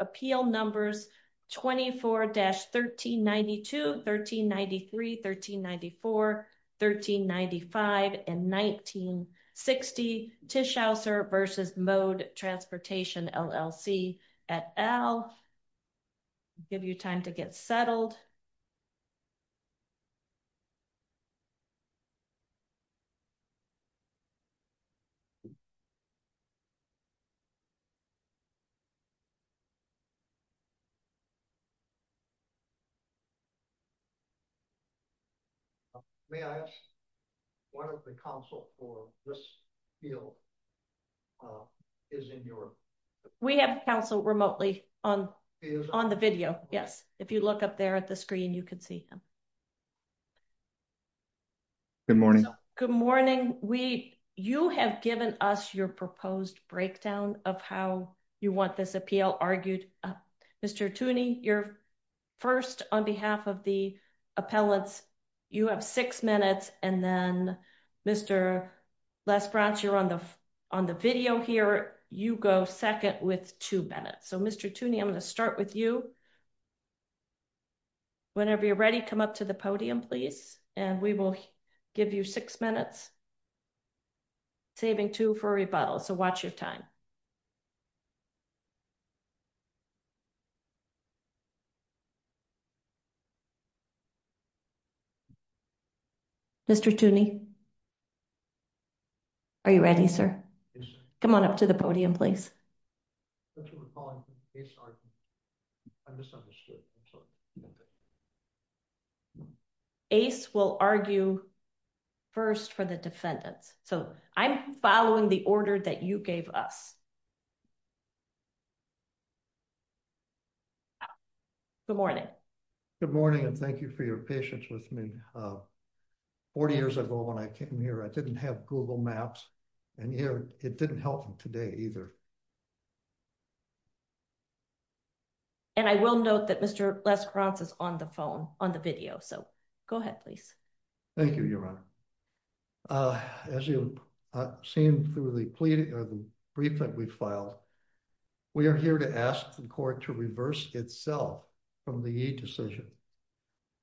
Appeal Numbers 24-1392, 1393, 1394, 1395, and 1960, Tischauser v. Mode Transportation, LLC, et al. I'll give you time to get settled. May I ask, why don't the counsel for this appeal is in your... We have counsel remotely on the video, yes. If you look up there at the screen, you can see him. Good morning. Good morning. You have given us your proposed breakdown of how you want this appeal argued up. Mr. Tooney, you're first on behalf of the appellants. You have six minutes, and then Mr. Lesbrance, you're on the video here. You go second with two minutes. So, Mr. Tooney, I'm going to start with you. Whenever you're ready, come up to the podium, please, and we will give you six minutes, saving two for rebuttal, so watch your time. Mr. Tooney, are you ready, sir? Come on up to the podium, please. That's what we call an ace argument. I misunderstood. I'm sorry. Ace will argue first for the defendants. So, I'm following the order that you gave us. Good morning. Good morning, and thank you for your patience with me. Forty years ago when I came here, I didn't have Google Maps, and it didn't help me today either. And I will note that Mr. Lesbrance is on the phone, on the video, so go ahead, please. Thank you, Your Honor. As you've seen through the brief that we filed, we are here to ask the court to reverse itself from the E decision.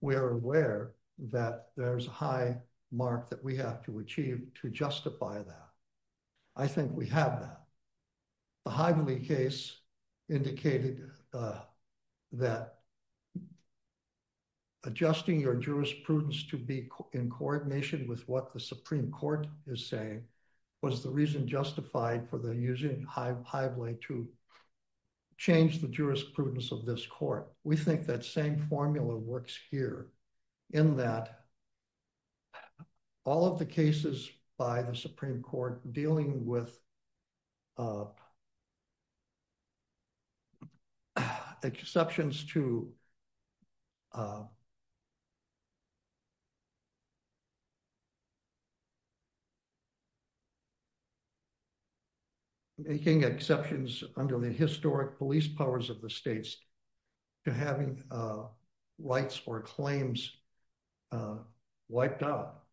We are aware that there's a high mark that we have to achieve to justify that. I think we have that. The Hively case indicated that adjusting your jurisprudence to be in coordination with what the Supreme Court is saying was the reason justified for using Hively to change the jurisprudence of this court. We think that same formula works here in that all of the cases by the Supreme Court dealing with exceptions to making exceptions under the historic police powers of the states to having rights or claims wiped out.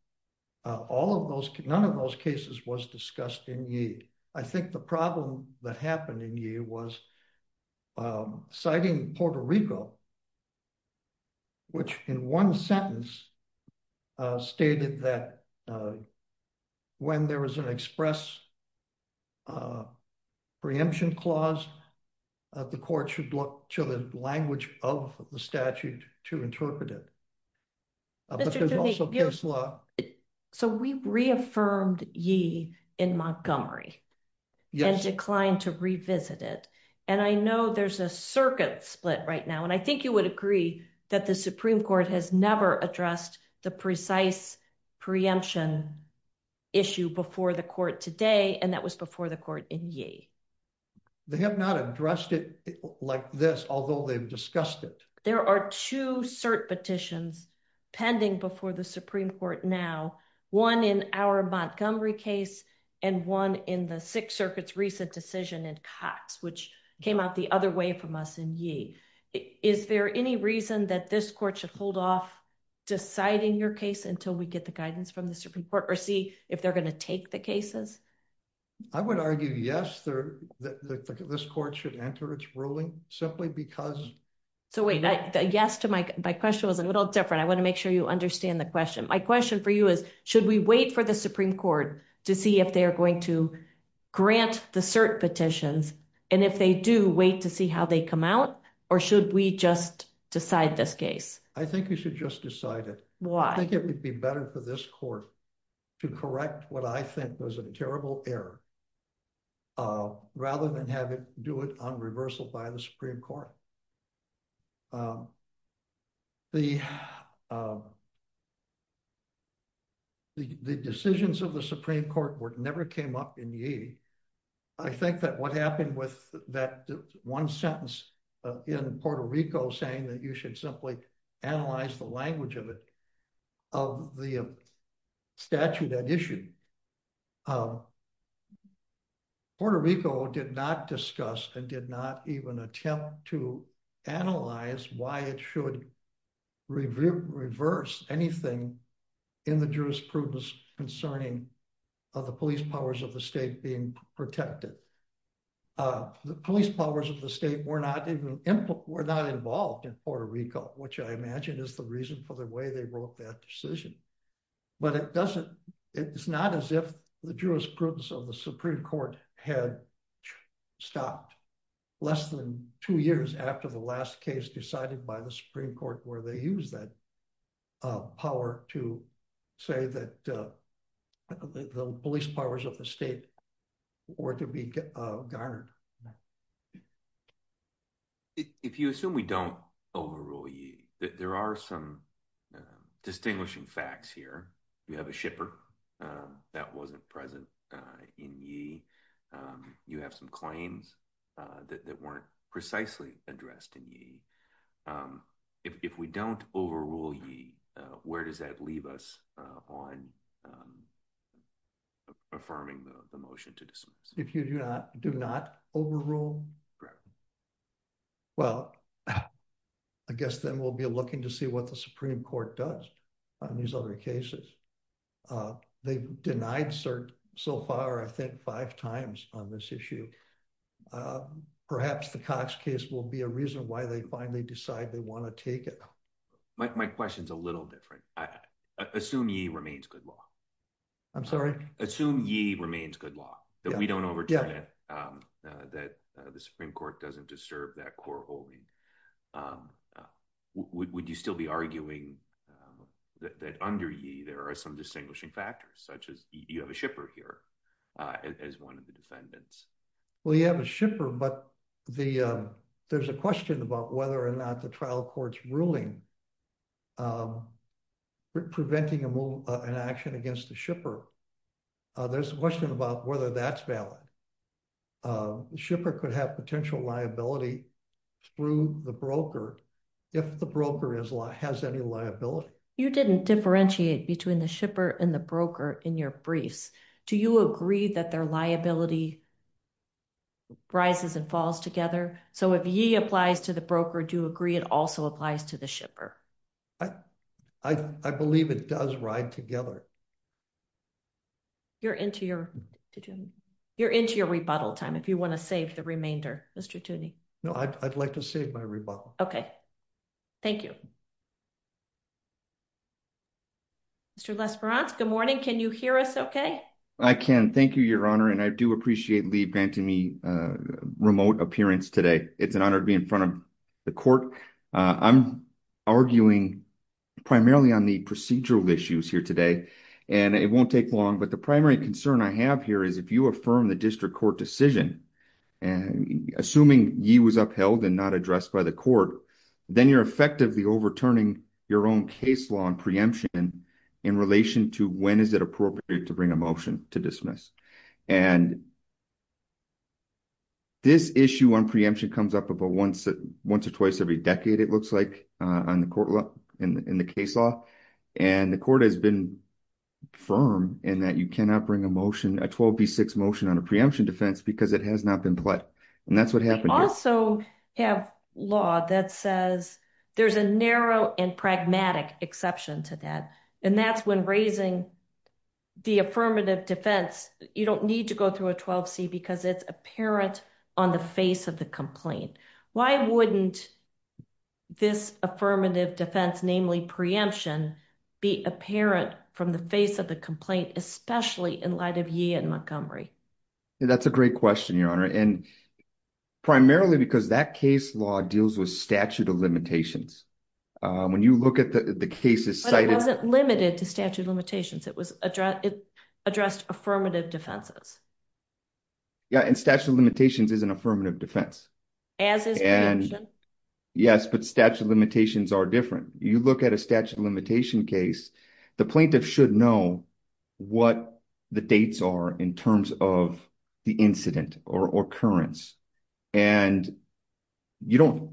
All of those, none of those cases was discussed in Yee. I think the problem that happened in Yee was citing Puerto Rico, which in one sentence stated that when there was an express preemption clause, the court should look to the language of the statute to interpret it. So we reaffirmed Yee in Montgomery and declined to revisit it, and I know there's a circuit split right now, and I think you would agree that the Supreme Court has never addressed the precise preemption issue before the court today, and that was before the court in Yee. They have not addressed it like this, although they've discussed it. There are two cert petitions pending before the Supreme Court now, one in our Montgomery case and one in the Sixth Circuit's recent decision in Cox, which came out the other way from us in Yee. Is there any reason that this court should hold off deciding your case until we get the guidance from the Supreme Court or see if they're going to take the cases? I would argue yes, this court should enter its ruling simply because... So wait, the yes to my question was a little different. I want to make sure you understand the question. My question for you is, should we wait for the Supreme Court to see if they're going to grant the cert petitions, and if they do, wait to see how they come out, or should we just decide this case? I think we should just decide it. Why? I think it would be better for this court to correct what I think was a terrible error rather than have it do it on reversal by the Supreme Court. The decisions of the Supreme Court never came up in Yee. I think that what happened with that one sentence in Puerto Rico saying that you should simply analyze the language of the statute at issue. Puerto Rico did not discuss and did not even attempt to analyze why it should reverse anything in the jurisprudence concerning the police powers of the state being protected. The police powers of the state were not involved in Puerto Rico, which I imagine is the reason for the way they wrote that decision. But it's not as if the jurisprudence of the Supreme Court had stopped less than two years after the last case decided by the Supreme Court where they used that power to say that the police powers of the state were to be garnered. If you assume we don't overrule Yee, there are some distinguishing facts here. You have a shipper that wasn't present in Yee. You have some claims that weren't precisely addressed in Yee. If we don't overrule Yee, where does that leave us on affirming the motion to dismiss? If you do not overrule? Correct. Well, I guess then we'll be looking to see what the Supreme Court does on these other cases. They've denied cert so far, I think, five times on this issue. I think perhaps the Cox case will be a reason why they finally decide they want to take it. My question's a little different. Assume Yee remains good law. I'm sorry? Assume Yee remains good law. That we don't overturn it. That the Supreme Court doesn't disturb that core holding. Would you still be arguing that under Yee there are some distinguishing factors, such as you have a shipper here as one of the defendants? Well, you have a shipper, but there's a question about whether or not the trial court's ruling preventing an action against the shipper. There's a question about whether that's valid. The shipper could have potential liability through the broker if the broker has any liability. You didn't differentiate between the shipper and the broker in your briefs. Do you agree that their liability rises and falls together? So if Yee applies to the broker, do you agree it also applies to the shipper? I believe it does ride together. You're into your rebuttal time if you want to save the remainder, Mr. Tooney. No, I'd like to save my rebuttal. Okay. Thank you. Mr. Lesperance, good morning. Can you hear us okay? I can. Thank you, Your Honor. And I do appreciate Lee Bantamy's remote appearance today. It's an honor to be in front of the court. I'm arguing primarily on the procedural issues here today. And it won't take long. But the primary concern I have here is if you affirm the district court decision, assuming Yee was upheld and not addressed by the court, then you're effectively overturning your own case law and preemption in relation to when is it appropriate to bring a motion to dismiss. And this issue on preemption comes up about once or twice every decade, it looks like, in the case law. And the court has been firm in that you cannot bring a motion, a 12B6 motion on a preemption defense because it has not been pled. And that's what happened here. We also have law that says there's a narrow and pragmatic exception to that. And that's when raising the affirmative defense. You don't need to go through a 12C because it's apparent on the face of the complaint. Why wouldn't this affirmative defense, namely preemption, be apparent from the face of the complaint, especially in light of Yee and Montgomery? That's a great question, Your Honor. And primarily because that case law deals with statute of limitations. When you look at the cases cited. But it wasn't limited to statute of limitations. It addressed affirmative defenses. Yeah, and statute of limitations is an affirmative defense. As is preemption. Yes, but statute of limitations are different. You look at a statute of limitation case, the plaintiff should know what the dates are in terms of the incident or occurrence. And you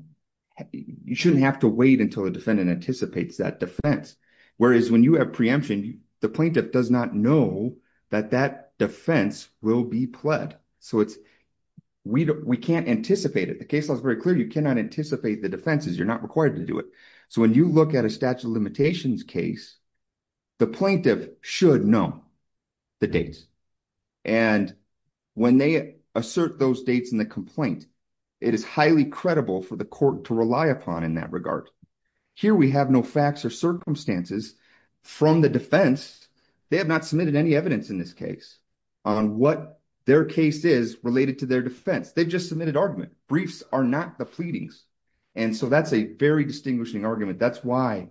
shouldn't have to wait until the defendant anticipates that Whereas when you have preemption, the plaintiff does not know that that defense will be pled. So we can't anticipate it. The case law is very clear. You cannot anticipate the defenses. You're not required to do it. So when you look at a statute of limitations case, the plaintiff should know the dates. And when they assert those dates in the complaint, it is highly credible for the court to rely upon in that regard. Here we have no facts or circumstances from the defense. They have not submitted any evidence in this case on what their case is related to their defense. They just submitted argument. Briefs are not the pleadings. And so that's a very distinguishing argument. That's why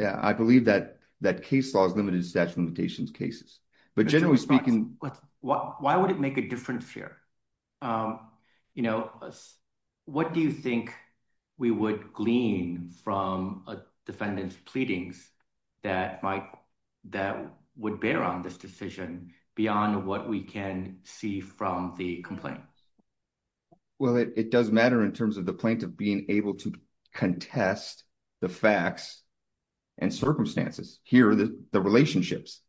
I believe that that case law is limited to statute of limitations cases. But generally speaking. Why would it make a difference here? You know, What do you think we would glean from a defendant's pleadings? That might, that would bear on this decision beyond what we can see from the complaint. Well, it does matter in terms of the plaintiff being able to contest the facts and circumstances here. But it does matter in terms of the relationships.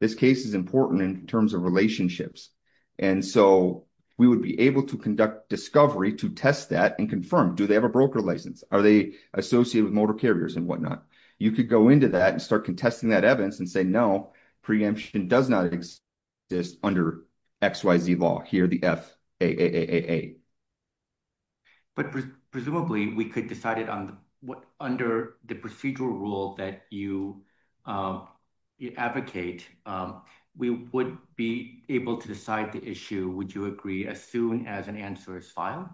This case is important in terms of relationships. And so we would be able to conduct discovery to test that and confirm, do they have a broker license? Are they associated with motor carriers and whatnot? You could go into that and start contesting that evidence and say, no. Preemption does not exist. This under X, Y, Z law here, the F. And so we would be able to decide that. But presumably we could decide it on. What under the procedural rule that you. You advocate. We would be able to decide the issue. Would you agree as soon as an answer is filed?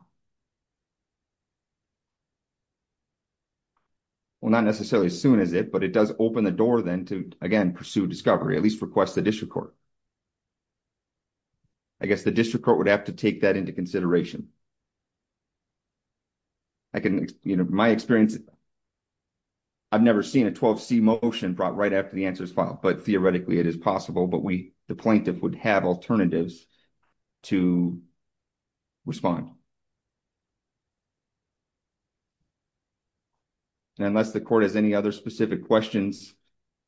Well, not necessarily as soon as it, but it does open the door then to, again, pursue discovery, at least request the district court. I guess the district court would have to take that into consideration. I can, you know, my experience. I've never seen a 12 C motion brought right after the answers file, but theoretically it is possible, but we, the plaintiff would have alternatives to respond. Unless the court has any other specific questions.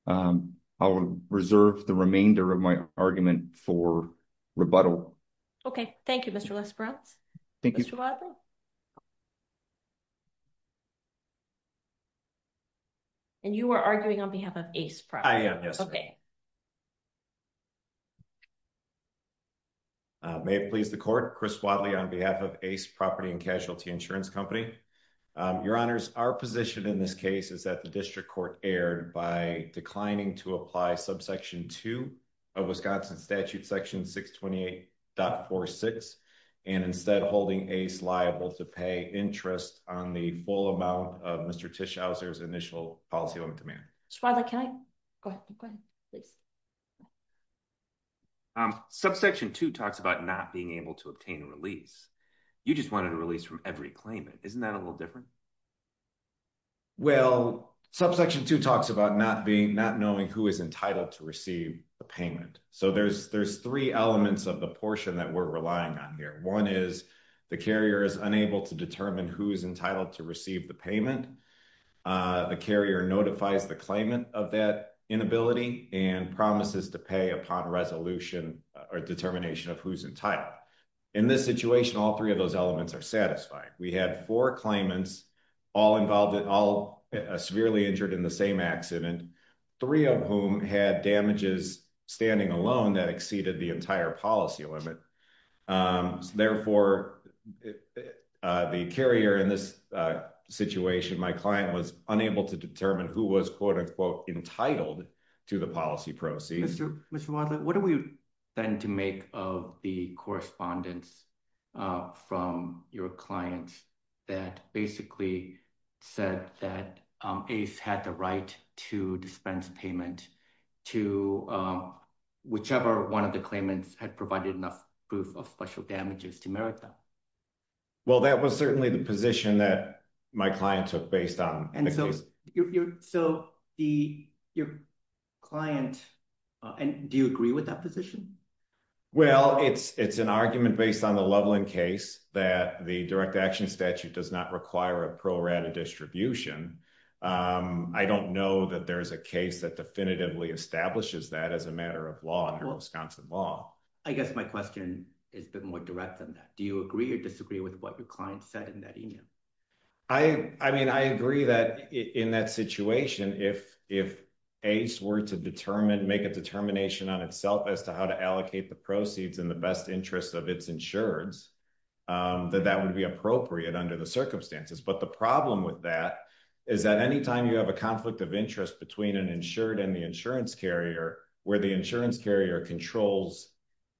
I'll reserve the remainder of my argument for. Rebuttal. Okay. Thank you. Mr. Thank you. And you were arguing on behalf of ACE. Okay. May it please the court. Thank you. My name is Chris Wadley on behalf of ACE property and casualty insurance company. Your honors our position in this case is that the district court aired by declining to apply subsection two. A Wisconsin statute section six 28. Dot four six. And instead of holding ACE liable to pay interest on the full amount of the payment, Tish houses initial policy on demand. Go ahead. Subsection two talks about not being able to obtain a release. You just wanted to release from every claimant. Isn't that a little different? Well, subsection two talks about not being not knowing who is entitled to receive a payment. So there's, there's three elements of the portion that we're relying on here. One is. The carrier is unable to determine who's entitled to receive the payment. The carrier notifies the claimant of that inability and promises to pay upon resolution or determination of who's entitled. In this situation, all three of those elements are satisfied. We had four claimants. All involved in all severely injured in the same accident. Three of whom had damages standing alone that exceeded the entire policy limit. Therefore. The carrier in this situation, my client was unable to determine who was quote unquote entitled to the policy proceeds. Mr. And there was one claimant. That basically. Said that ACE had the right to dispense payment. Two. Whichever one of the claimants had provided enough proof of special damages to merit that. Well, that was certainly the position that my client took based on. So you're so. The. Client. And do you agree with that position? Well, it's, it's an argument based on the leveling case that the direct action statute does not require a pro rata distribution. I don't know that there's a case that definitively establishes that as a matter of law and Wisconsin law. I guess my question. Is the more direct than that. Do you agree or disagree with what your client said in that email? I, I mean, I agree that in that situation, if, if. If. ACE were to determine, make a determination on itself as to how to allocate the proceeds in the best interest of its insurance. That that would be appropriate under the circumstances. But the problem with that. Is that anytime you have a conflict of interest between an insured and the insurance carrier where the insurance carrier controls.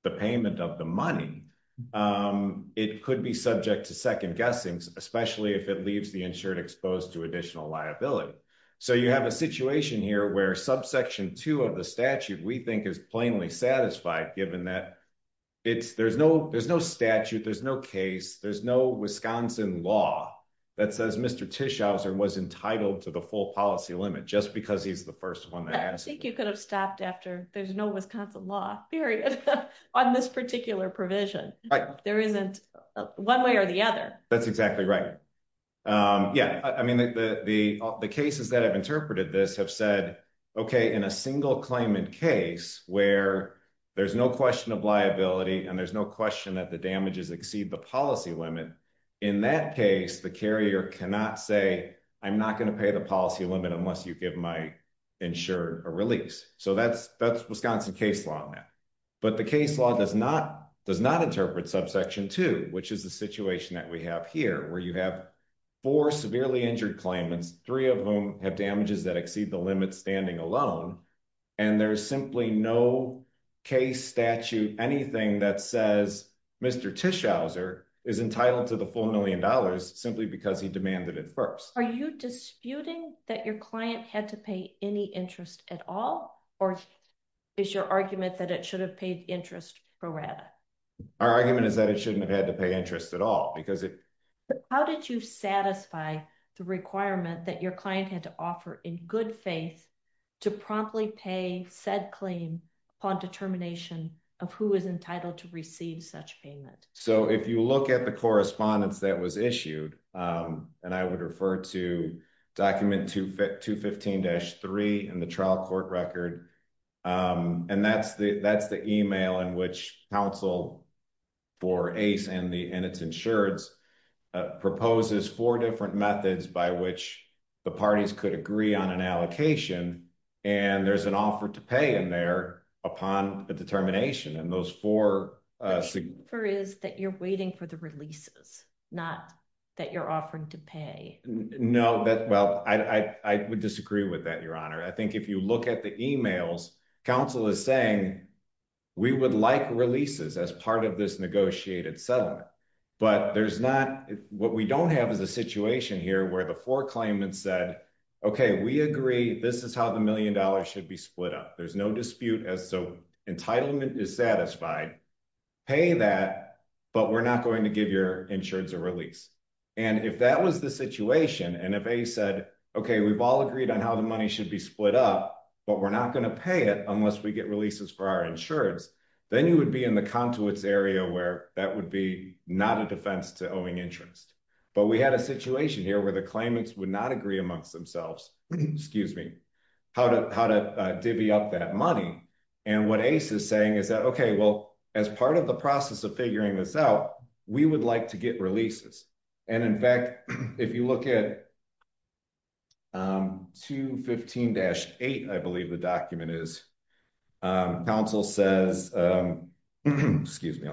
The payment of the money. It could be subject to second guessings, especially if it leaves the insured exposed to additional liability. So you have a situation here where subsection two of the statute we think is plainly satisfied, given that. It's there's no, there's no statute. There's no case. There's no Wisconsin law. That says Mr. Tischauser was entitled to the full policy limit just because he's the first one. I think you could have stopped after there's no Wisconsin law period. On this particular provision. There isn't one way or the other. That's exactly right. Yeah. I mean, the, the, the. The cases that I've interpreted this have said, okay. In a single claimant case where. There's no question of liability. And there's no question that the damages exceed the policy limit. In that case, the carrier cannot say, I'm not going to pay the policy limit unless you give my. Ensure a release. So that's, that's Wisconsin case law. But the case law does not, does not interpret subsection two, which is the situation that we have here, where you have four severely injured claimants, three of whom have damages that exceed the limit standing alone. And there's simply no case statute, anything that says Mr. Tischauser is entitled to the $4 million simply because he demanded it first. Are you disputing that your client had to pay any interest at all? Or. Is your argument that it should have paid interest. Our argument is that it shouldn't have had to pay interest at all because it. How did you satisfy the requirement that your client had to offer in good faith? To promptly pay said claim. Upon determination of who is entitled to receive such payment. So if you look at the correspondence that was issued. And I would refer to document to fit to 15 dash three and the trial court record. And that's the, that's the email in which council. For ACE and the, and it's insurance. Proposes four different methods by which. The parties could agree on an allocation. And there's an offer to pay in there upon the determination. And those four. For is that you're waiting for the releases. Not that you're offering to pay. No, that, well, I, I, I would disagree with that, your honor. I think if you look at the emails, council is saying. We would like releases as part of this negotiated settlement. But there's not. There's no dispute as to how the $1 million should be split up. what we don't have is a situation here where the four claimants said, okay, we agree. This is how the million dollars should be split up. There's no dispute as so entitlement is satisfied. Pay that, but we're not going to give your insurance a release. And if that was the situation and if a said, okay, we've all agreed on how the money should be split up. We're not going to pay it unless we get releases for our insurance. Then you would be in the contours area where that would be not a defense to owing interest. But we had a situation here where the claimants would not agree amongst themselves. Excuse me. How to, how to divvy up that money. And what ACE is saying is that, okay, well, as part of the process of figuring this out, we would like to get releases. And in fact, if you look at. I believe the document is. Council says, excuse me.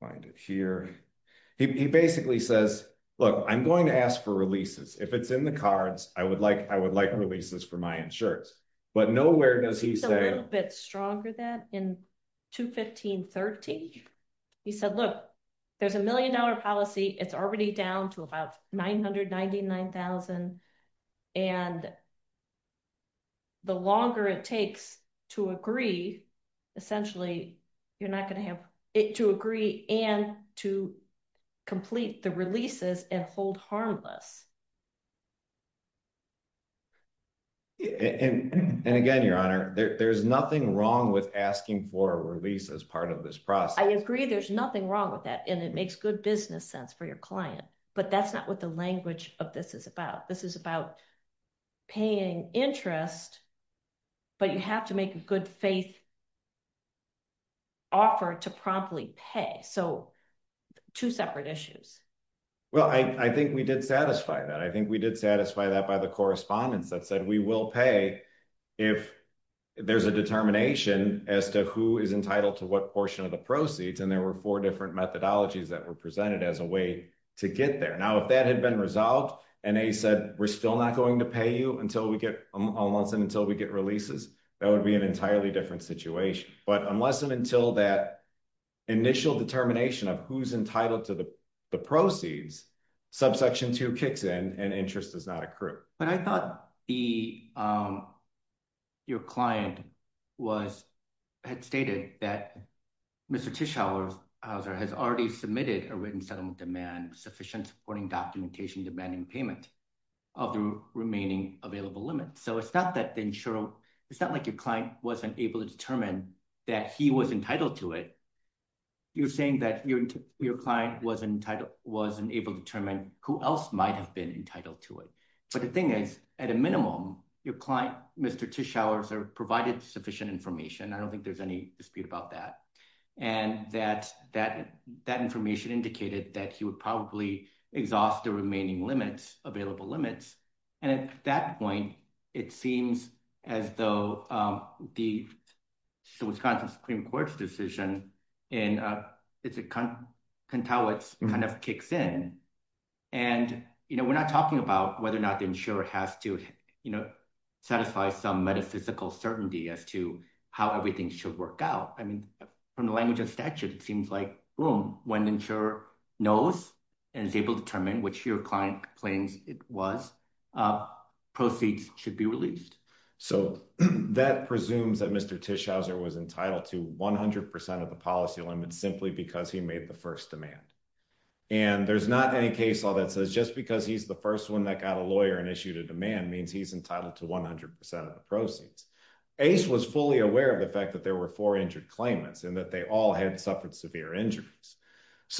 Find it here. He basically says, look, I'm going to ask for releases. If it's in the cards, I would like, I would like releases for my insurance. But nowhere does he say a little bit stronger than in. Two 1530. He said, look. I'm going to ask for releases for my insurance. So there's a million dollar policy. It's already down to about 999,000. And. The longer it takes to agree. Essentially. You're not going to have it to agree and to. Complete the releases and hold harmless. And again, your honor, there, there's nothing wrong with asking for a release as part of this process. I agree. There's nothing wrong with that. And it makes good business sense for your client. But that's not what the language of this is about. This is about. Paying interest. But you have to make a good faith. Offer to promptly pay. So. Two separate issues. Well, I, I think we did satisfy that. I think we did satisfy that by the correspondence that said we will pay. If there's a determination as to who is entitled to what portion of the proceeds. And there were four different methodologies that were presented as a way to get there. Now, if that had been resolved. And they said, we're still not going to pay you until we get. We're still not going to pay you. Unless and until we get releases. That would be an entirely different situation, but unless and until that initial determination of who's entitled to the. The proceeds. Subsection two kicks in and interest does not accrue. But I thought the. Your client. Was. Had stated that. Mr. Tish hours. How's there has already submitted a written settlement demand. Sufficient supporting documentation, demanding payment. Of the remaining available limits. So it's not that the insurer. It's not like your client wasn't able to determine that he was entitled to it. You're saying that you're. Your client was entitled. Wasn't able to determine who else might have been entitled to it. But the thing is at a minimum, your client. Mr. Tish hours are provided sufficient information. I don't think there's any dispute about that. And that, that, that information indicated that he would probably exhaust the remaining limits available limits. And at that point, it seems as though. The. Wisconsin Supreme court's decision. In a. It's a con. Kind of kicks in. And, you know, we're not talking about whether or not the insurer has to, you know, satisfy some metaphysical certainty as to how everything should work out. I mean, from the language of statute, it seems like room. For the insurer to be able to make a decision. And then when the insurer knows. And is able to determine which your client claims it was. Proceeds should be released. So that presumes that Mr. Tish houser was entitled to 100% of the policy limits simply because he made the first demand. And there's not any case law that says just because he's the first one that got a lawyer and issued a demand means he's entitled to 100%.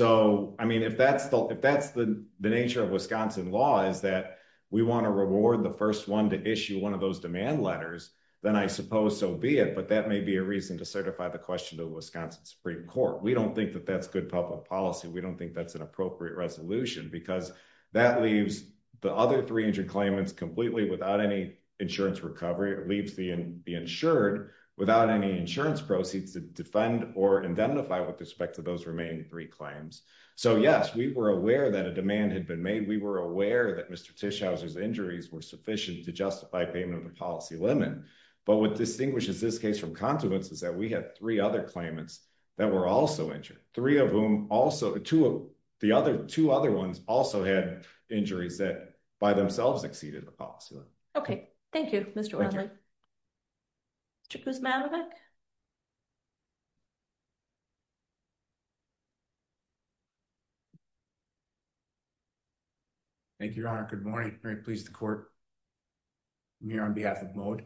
So I mean, if that's the, if that's the nature of Wisconsin law is that. We want to reward the first one to issue one of those demand letters. Then I suppose so be it, but that may be a reason to certify the question to Wisconsin Supreme court. We don't think that that's good public policy. We don't think that's an appropriate resolution because that leaves. The other three injured claimants completely without any insurance recovery or leaves the, the insured without any insurance proceeds to defend or identify with respect to those remaining three claims. So yes, we were aware that a demand had been made. We were aware that Mr. Tish houses injuries were sufficient to justify payment of the policy limit. But what distinguishes this case from continuance is that we have three other claimants. That were also injured three of whom also to the other two other ones also had injuries that by themselves exceeded the policy limit. Okay. Thank you, Mr. Malik. Thank you, your honor. Good morning. Very pleased to court. I'm here on behalf of mode.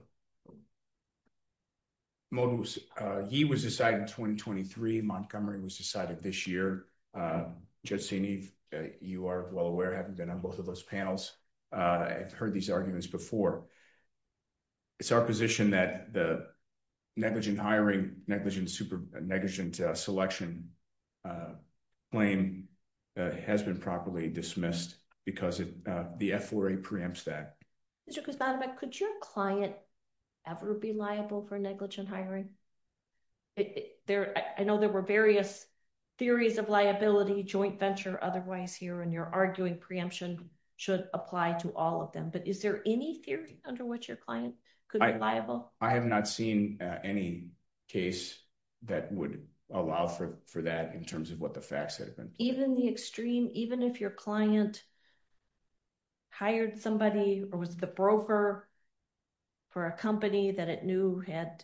He was decided in 2023 Montgomery was decided this year. I'm here to discuss the negligent hiring. Judging Eve you are well aware, having been on both of those panels. I've heard these arguments before. It's our position that. Negligent hiring negligent. Super negligent selection. Claim. Has been properly dismissed. Because the FRA preempts that. Could your client. Ever be liable for negligent hiring. I know there were various. Theories of liability joint venture. Otherwise here. And you're arguing preemption. Should apply to all of them, but is there any theory under what your client. Could be liable. I have not seen any case. That would allow for, for that in terms of what the facts. Even the extreme, even if your client. Hired somebody or was the broker. And then the worst driver. For a company that it knew had.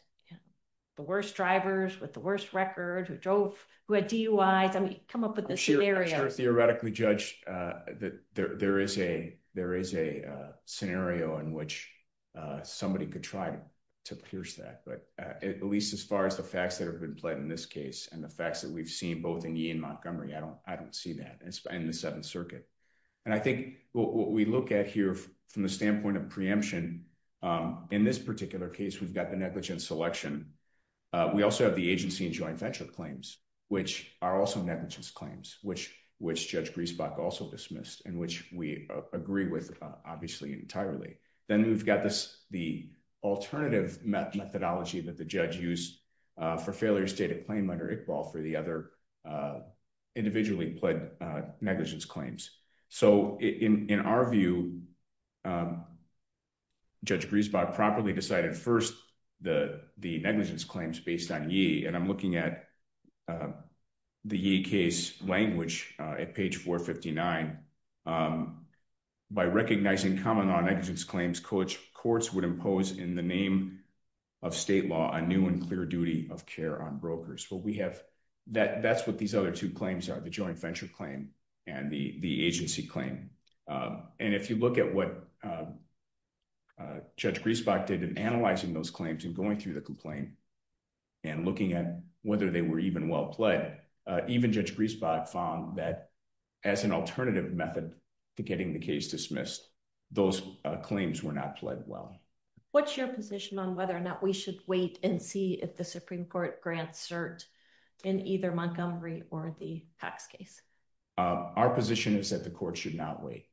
The worst drivers with the worst record who drove. Who had DUIs. I mean, come up with this. Theoretically judge. There is a, there is a scenario in which. Somebody could try. To pierce that, but. At least as far as the facts that have been played in this case. And the facts that we've seen both in Ian Montgomery. I don't, I don't see that. And the seventh circuit. And I think what we look at here. From the standpoint of preemption. In this particular case, we've got the negligence selection. We also have the agency and joint venture claims. Which are also negligence claims, which, which judge Griesbach also dismissed and which we agree with. Obviously entirely. Then we've got this, the alternative. Negligence claims. Alternative methodology that the judge used. For failure to state a claim under Iqbal for the other. Individually pled negligence claims. So in our view. Judge Griesbach properly decided first, the negligence claims based on ye. And I'm looking at. The case language at page four 59. By recognizing common on exits claims coach courts would impose in the name. Of state law, a new and clear duty of care on brokers. Well, we have. That that's what these other two claims are. The joint venture claim. And the, the agency claim. And if you look at what. Judge Griesbach did in analyzing those claims and going through the complaint. And looking at whether they were even well played. Even judge Griesbach found that. As an alternative method. To getting the case dismissed. Those claims were not played well. What's your position on whether or not we should wait and see if the Supreme court grants cert. In either Montgomery or the tax case. Our position is that the court should not wait.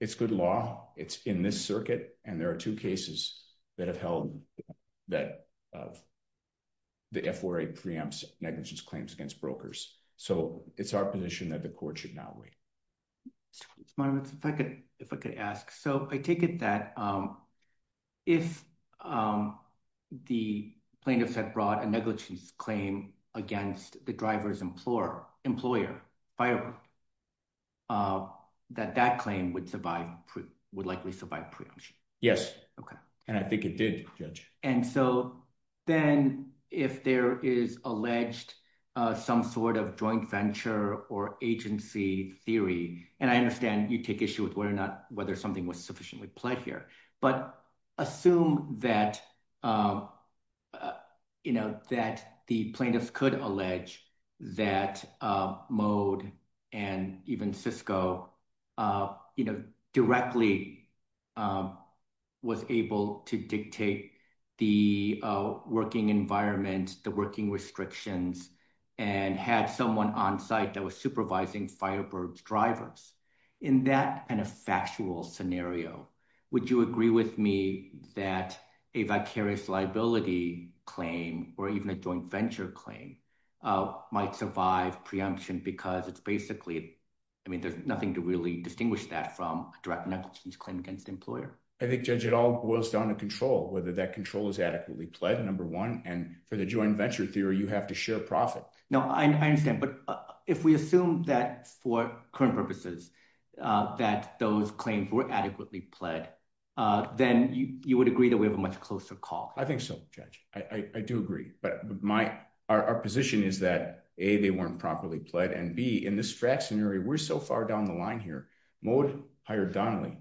It's good law. It's in this circuit. And there are two cases. That have held. That. The FRA preempts negligence claims against brokers. And there are two cases that have held that the FRA preempts So it's our position that the court should not wait. If I could, if I could ask. So I take it that. If. The plaintiffs had brought a negligence claim against the driver's employer, employer. That that claim would survive. Would likely survive preemption. Yes. Okay. And I think it did judge. The plaintiffs. And so then if there is alleged. Some sort of joint venture or agency theory. And I understand you take issue with whether or not, whether something was sufficiently played here, but assume that. You know, that the plaintiffs could allege. That mode. And, and even Cisco. You know, directly. Was able to dictate the working environment, the working restrictions and had someone onsite that was supervising Firebird's drivers. And the point of those two cases is that you have to have a In that kind of factual scenario. Would you agree with me? That a vicarious liability claim or even a joint venture claim. Might survive preemption because it's basically. I mean, there's nothing to really distinguish that from direct negligence claim against the employer. I think judge at all boils down to control. Whether that control is adequately pledged. Number one. And for the joint venture theory, you have to share profit. No, I understand. But if we assume that for current purposes, That those claims were adequately pled. Then you would agree that we have a much closer call. I think so. I do agree, but my, our, our position is that a, they weren't properly pled and be in this fact scenario. We're so far down the line here. Mode hired Donnelly.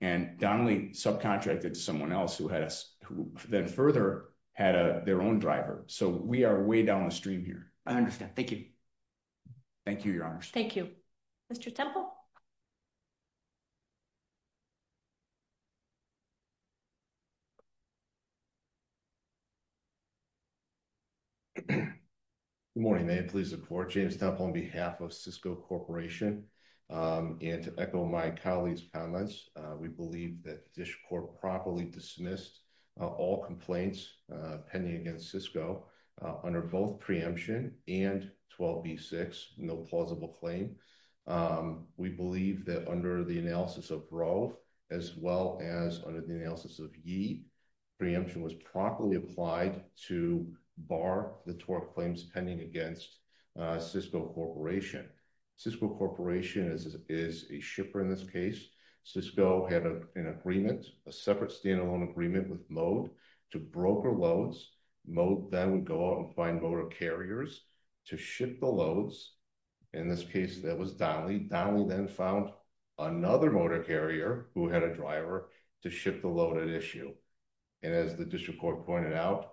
And Donnelly subcontracted someone else. Who had a, who then further had a, their own driver. So we are way down the stream here. I understand. Thank you. Thank you, your honors. Thank you. Mr. Temple. Good morning, ma'am. Please. On behalf of Cisco corporation. And to echo my colleagues comments, we believe that the Dish court properly dismissed. All complaints. Penny against Cisco. Under both preemption and 12 B six, no plausible claim. We believe that under the analysis of growth. As well as under the analysis of ye. We believe that the preemption was properly applied to bar the torque claims pending against. Cisco corporation. Cisco corporation is, is a shipper in this case. Cisco had an agreement. A separate standalone agreement with mode. To broker loads. Mode then go out and find motor carriers. To ship the loads. And as the district court pointed out,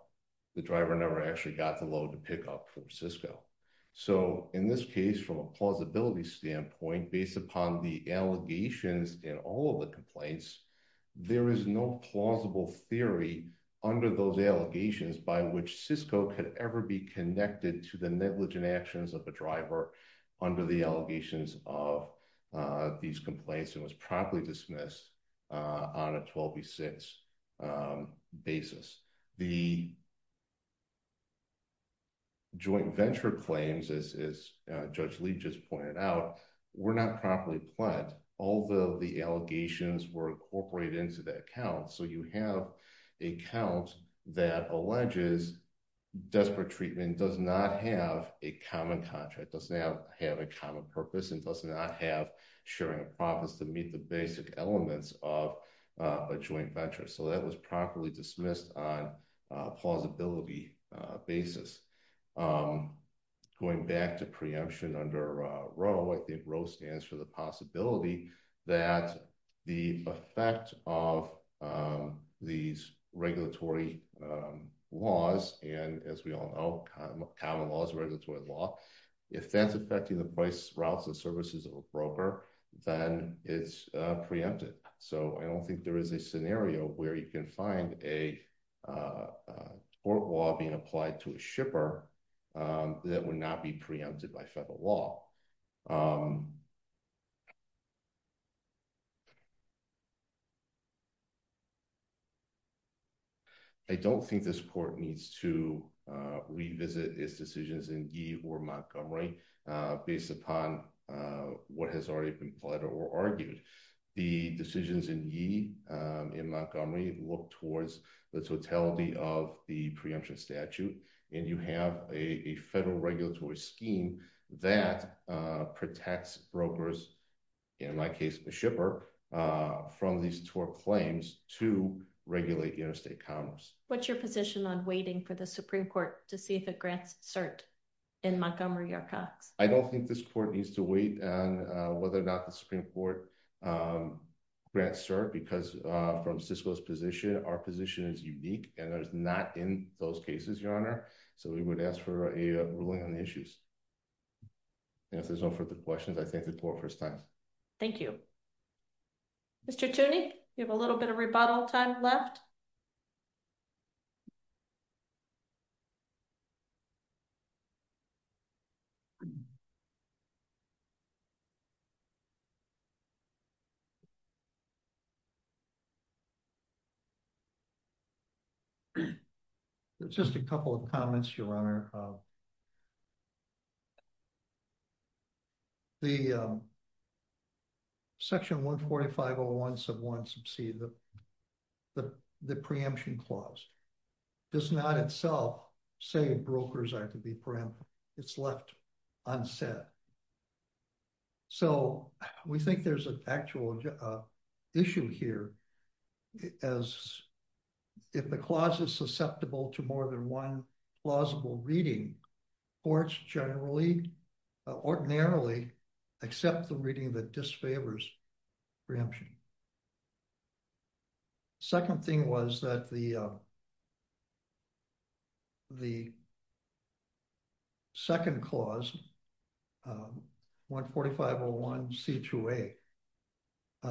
the driver never actually got the load to pick up from Cisco. So in this case, from a plausibility standpoint, The. Joint venture claims as, as. Judge Lee just pointed out. We're not properly planned. Although the allegations were incorporated into that account. So you have a count that alleges. Desperate treatment does not have a common contract. Does not have a common purpose and does not have. Sharing profits to meet the basic elements of. A joint venture. So that was properly dismissed. So I don't think there is a scenario where you can find a. That is on. A plausibility. Basis. Going back to preemption under a row. I think rose stands for the possibility. That the effect of. These regulatory. Laws. And as we all know. Common laws, regulatory law. If that's affecting the price routes and services of a broker. Then it's preempted. So I don't think there is a scenario where you can find a. Or law being applied to a shipper. That would not be preempted by federal law. I don't think this court needs to revisit its decisions in. Montgomery. Based upon. What has already been flooded or argued. The decisions in ye. In Montgomery. I don't think this court needs to wait on whether or not the Supreme court. Grants, sir. Because from Cisco's position. I don't think this court needs to revisit its decisions in. Based upon whether or not the Supreme court. Because from Cisco's position, our position is unique. And there's not in those cases, your honor. So we would ask for a ruling on the issues. If there's no further questions, I think the poor first time. Thank you. Mr. Okay. Is there a rebuttal time left? It's just a couple of comments. Your honor. I think there's an issue here. The. Section one 45 or one sub one. The preemption clause. Does not itself. Say brokers. It's left. On set. So we think there's an actual. Issue here. As. As far as I'm concerned. If the clause is susceptible to more than one plausible reading. Or it's generally. Ordinarily. Except the reading of the disfavors. Preemption. Second thing was that the. The. Second clause. One 45 or one C2. Did not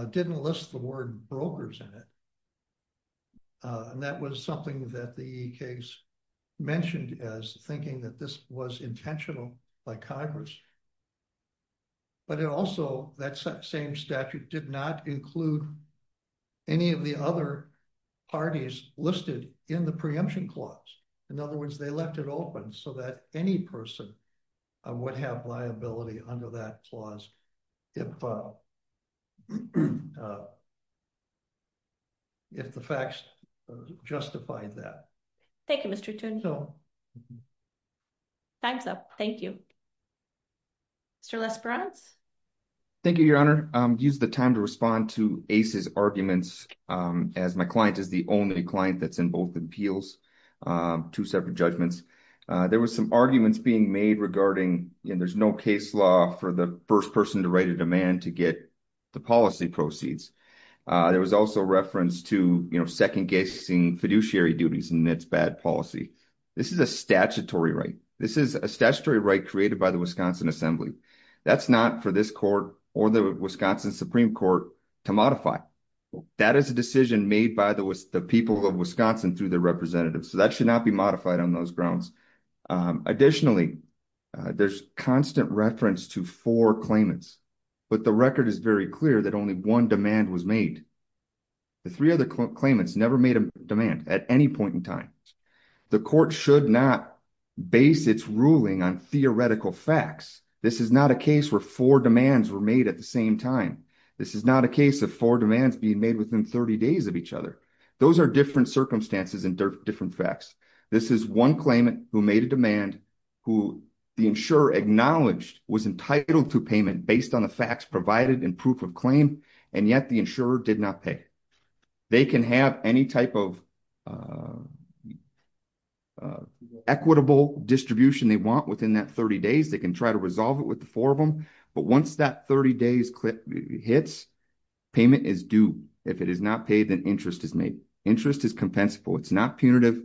say. Didn't list the word brokers in it. And that was something that the case. Mentioned as thinking that this was intentional by Congress. But it also that same statute did not include. Any of the other. Parties listed in the preemption clause. In other words, they left it open so that any person. Would have liability under that clause. If. If the facts. Justified that. Thank you, Mr. Time's up. Thank you. Mr. Thank you, your honor. Use the time to respond to ACEs arguments. As my client is the only client that's in both appeals. There was a lot of 坐.2 separate judgments. There was some arguments being made regarding, you know, there's no case law for the 1st person to write a demand, to get. The policy proceeds. There was also reference to second guessing fiduciary duties. And that's bad policy. This is a statutory right. This is a statutory right created by the Wisconsin assembly. That's not for this court or the Wisconsin Supreme court. To modify that is a decision made by the, the people of Wisconsin through the representative. So that should not be modified on those grounds. Additionally, there's constant reference to 4 claimants. But the record is very clear that only 1 demand was made. The 3 other claimants never made a demand at any point in time. The court should not base its ruling on theoretical facts. This is not a case where 4 demands were made at the same time. This is not a case of 4 demands being made within 30 days of each other. Those are different circumstances and different facts. This is 1 claimant who made a demand. Who the insurer acknowledged was entitled to payment based on the facts provided in proof of claim. And yet the insurer did not pay. They can have any type of. Equitable distribution they want within that 30 days, they can try to resolve it with the 4 of them. But once that 30 days hits, payment is due. If it is not paid, then interest is made. Interest is compensable. It's not punitive.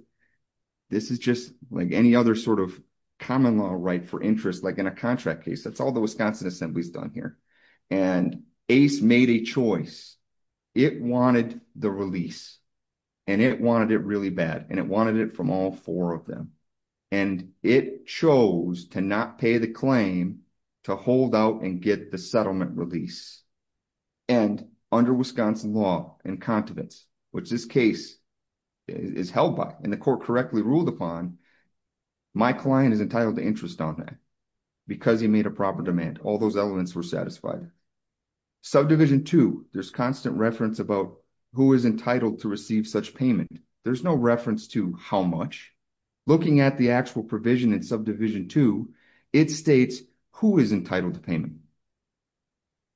This is just like any other sort of common law right for interest, like in a contract case. That's all the Wisconsin assembly's done here. And Ace made a choice. It wanted the release. And it wanted it really bad. And it wanted it from all 4 of them. And it chose to not pay the claim to hold out and get the settlement release. And under Wisconsin law and continence, which this case is held by and the court correctly ruled upon, my client is entitled to interest on that. Because he made a proper demand. All those elements were satisfied. Subdivision 2, there's constant reference about who is entitled to receive such payment. There's no reference to how much. Looking at the actual provision in subdivision 2, it states who is entitled to payment.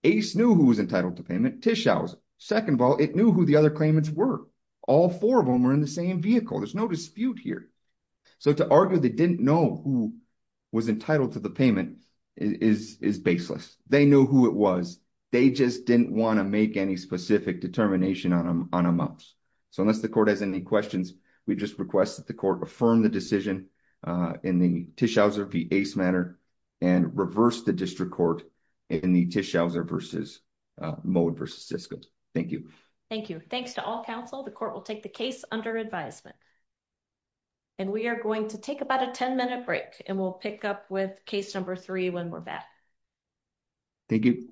Ace knew who was entitled to payment, Tischausen. Second of all, it knew who the other claimants were. All 4 of them were in the same vehicle. There's no dispute here. So to argue they didn't know who was entitled to the payment is baseless. They knew who it was. They just didn't want to make any specific determination on amounts. So unless the court has any questions, we just request that the court affirm the decision in the Tischausen v. Ace matter and reverse the district court in the Tischausen v. Mohen v. Thank you. Thank you. Thanks to all counsel. The court will take the case under advisement. And we are going to take about a 10 minute break and we'll pick up with case number 3 when we're back. Thank you.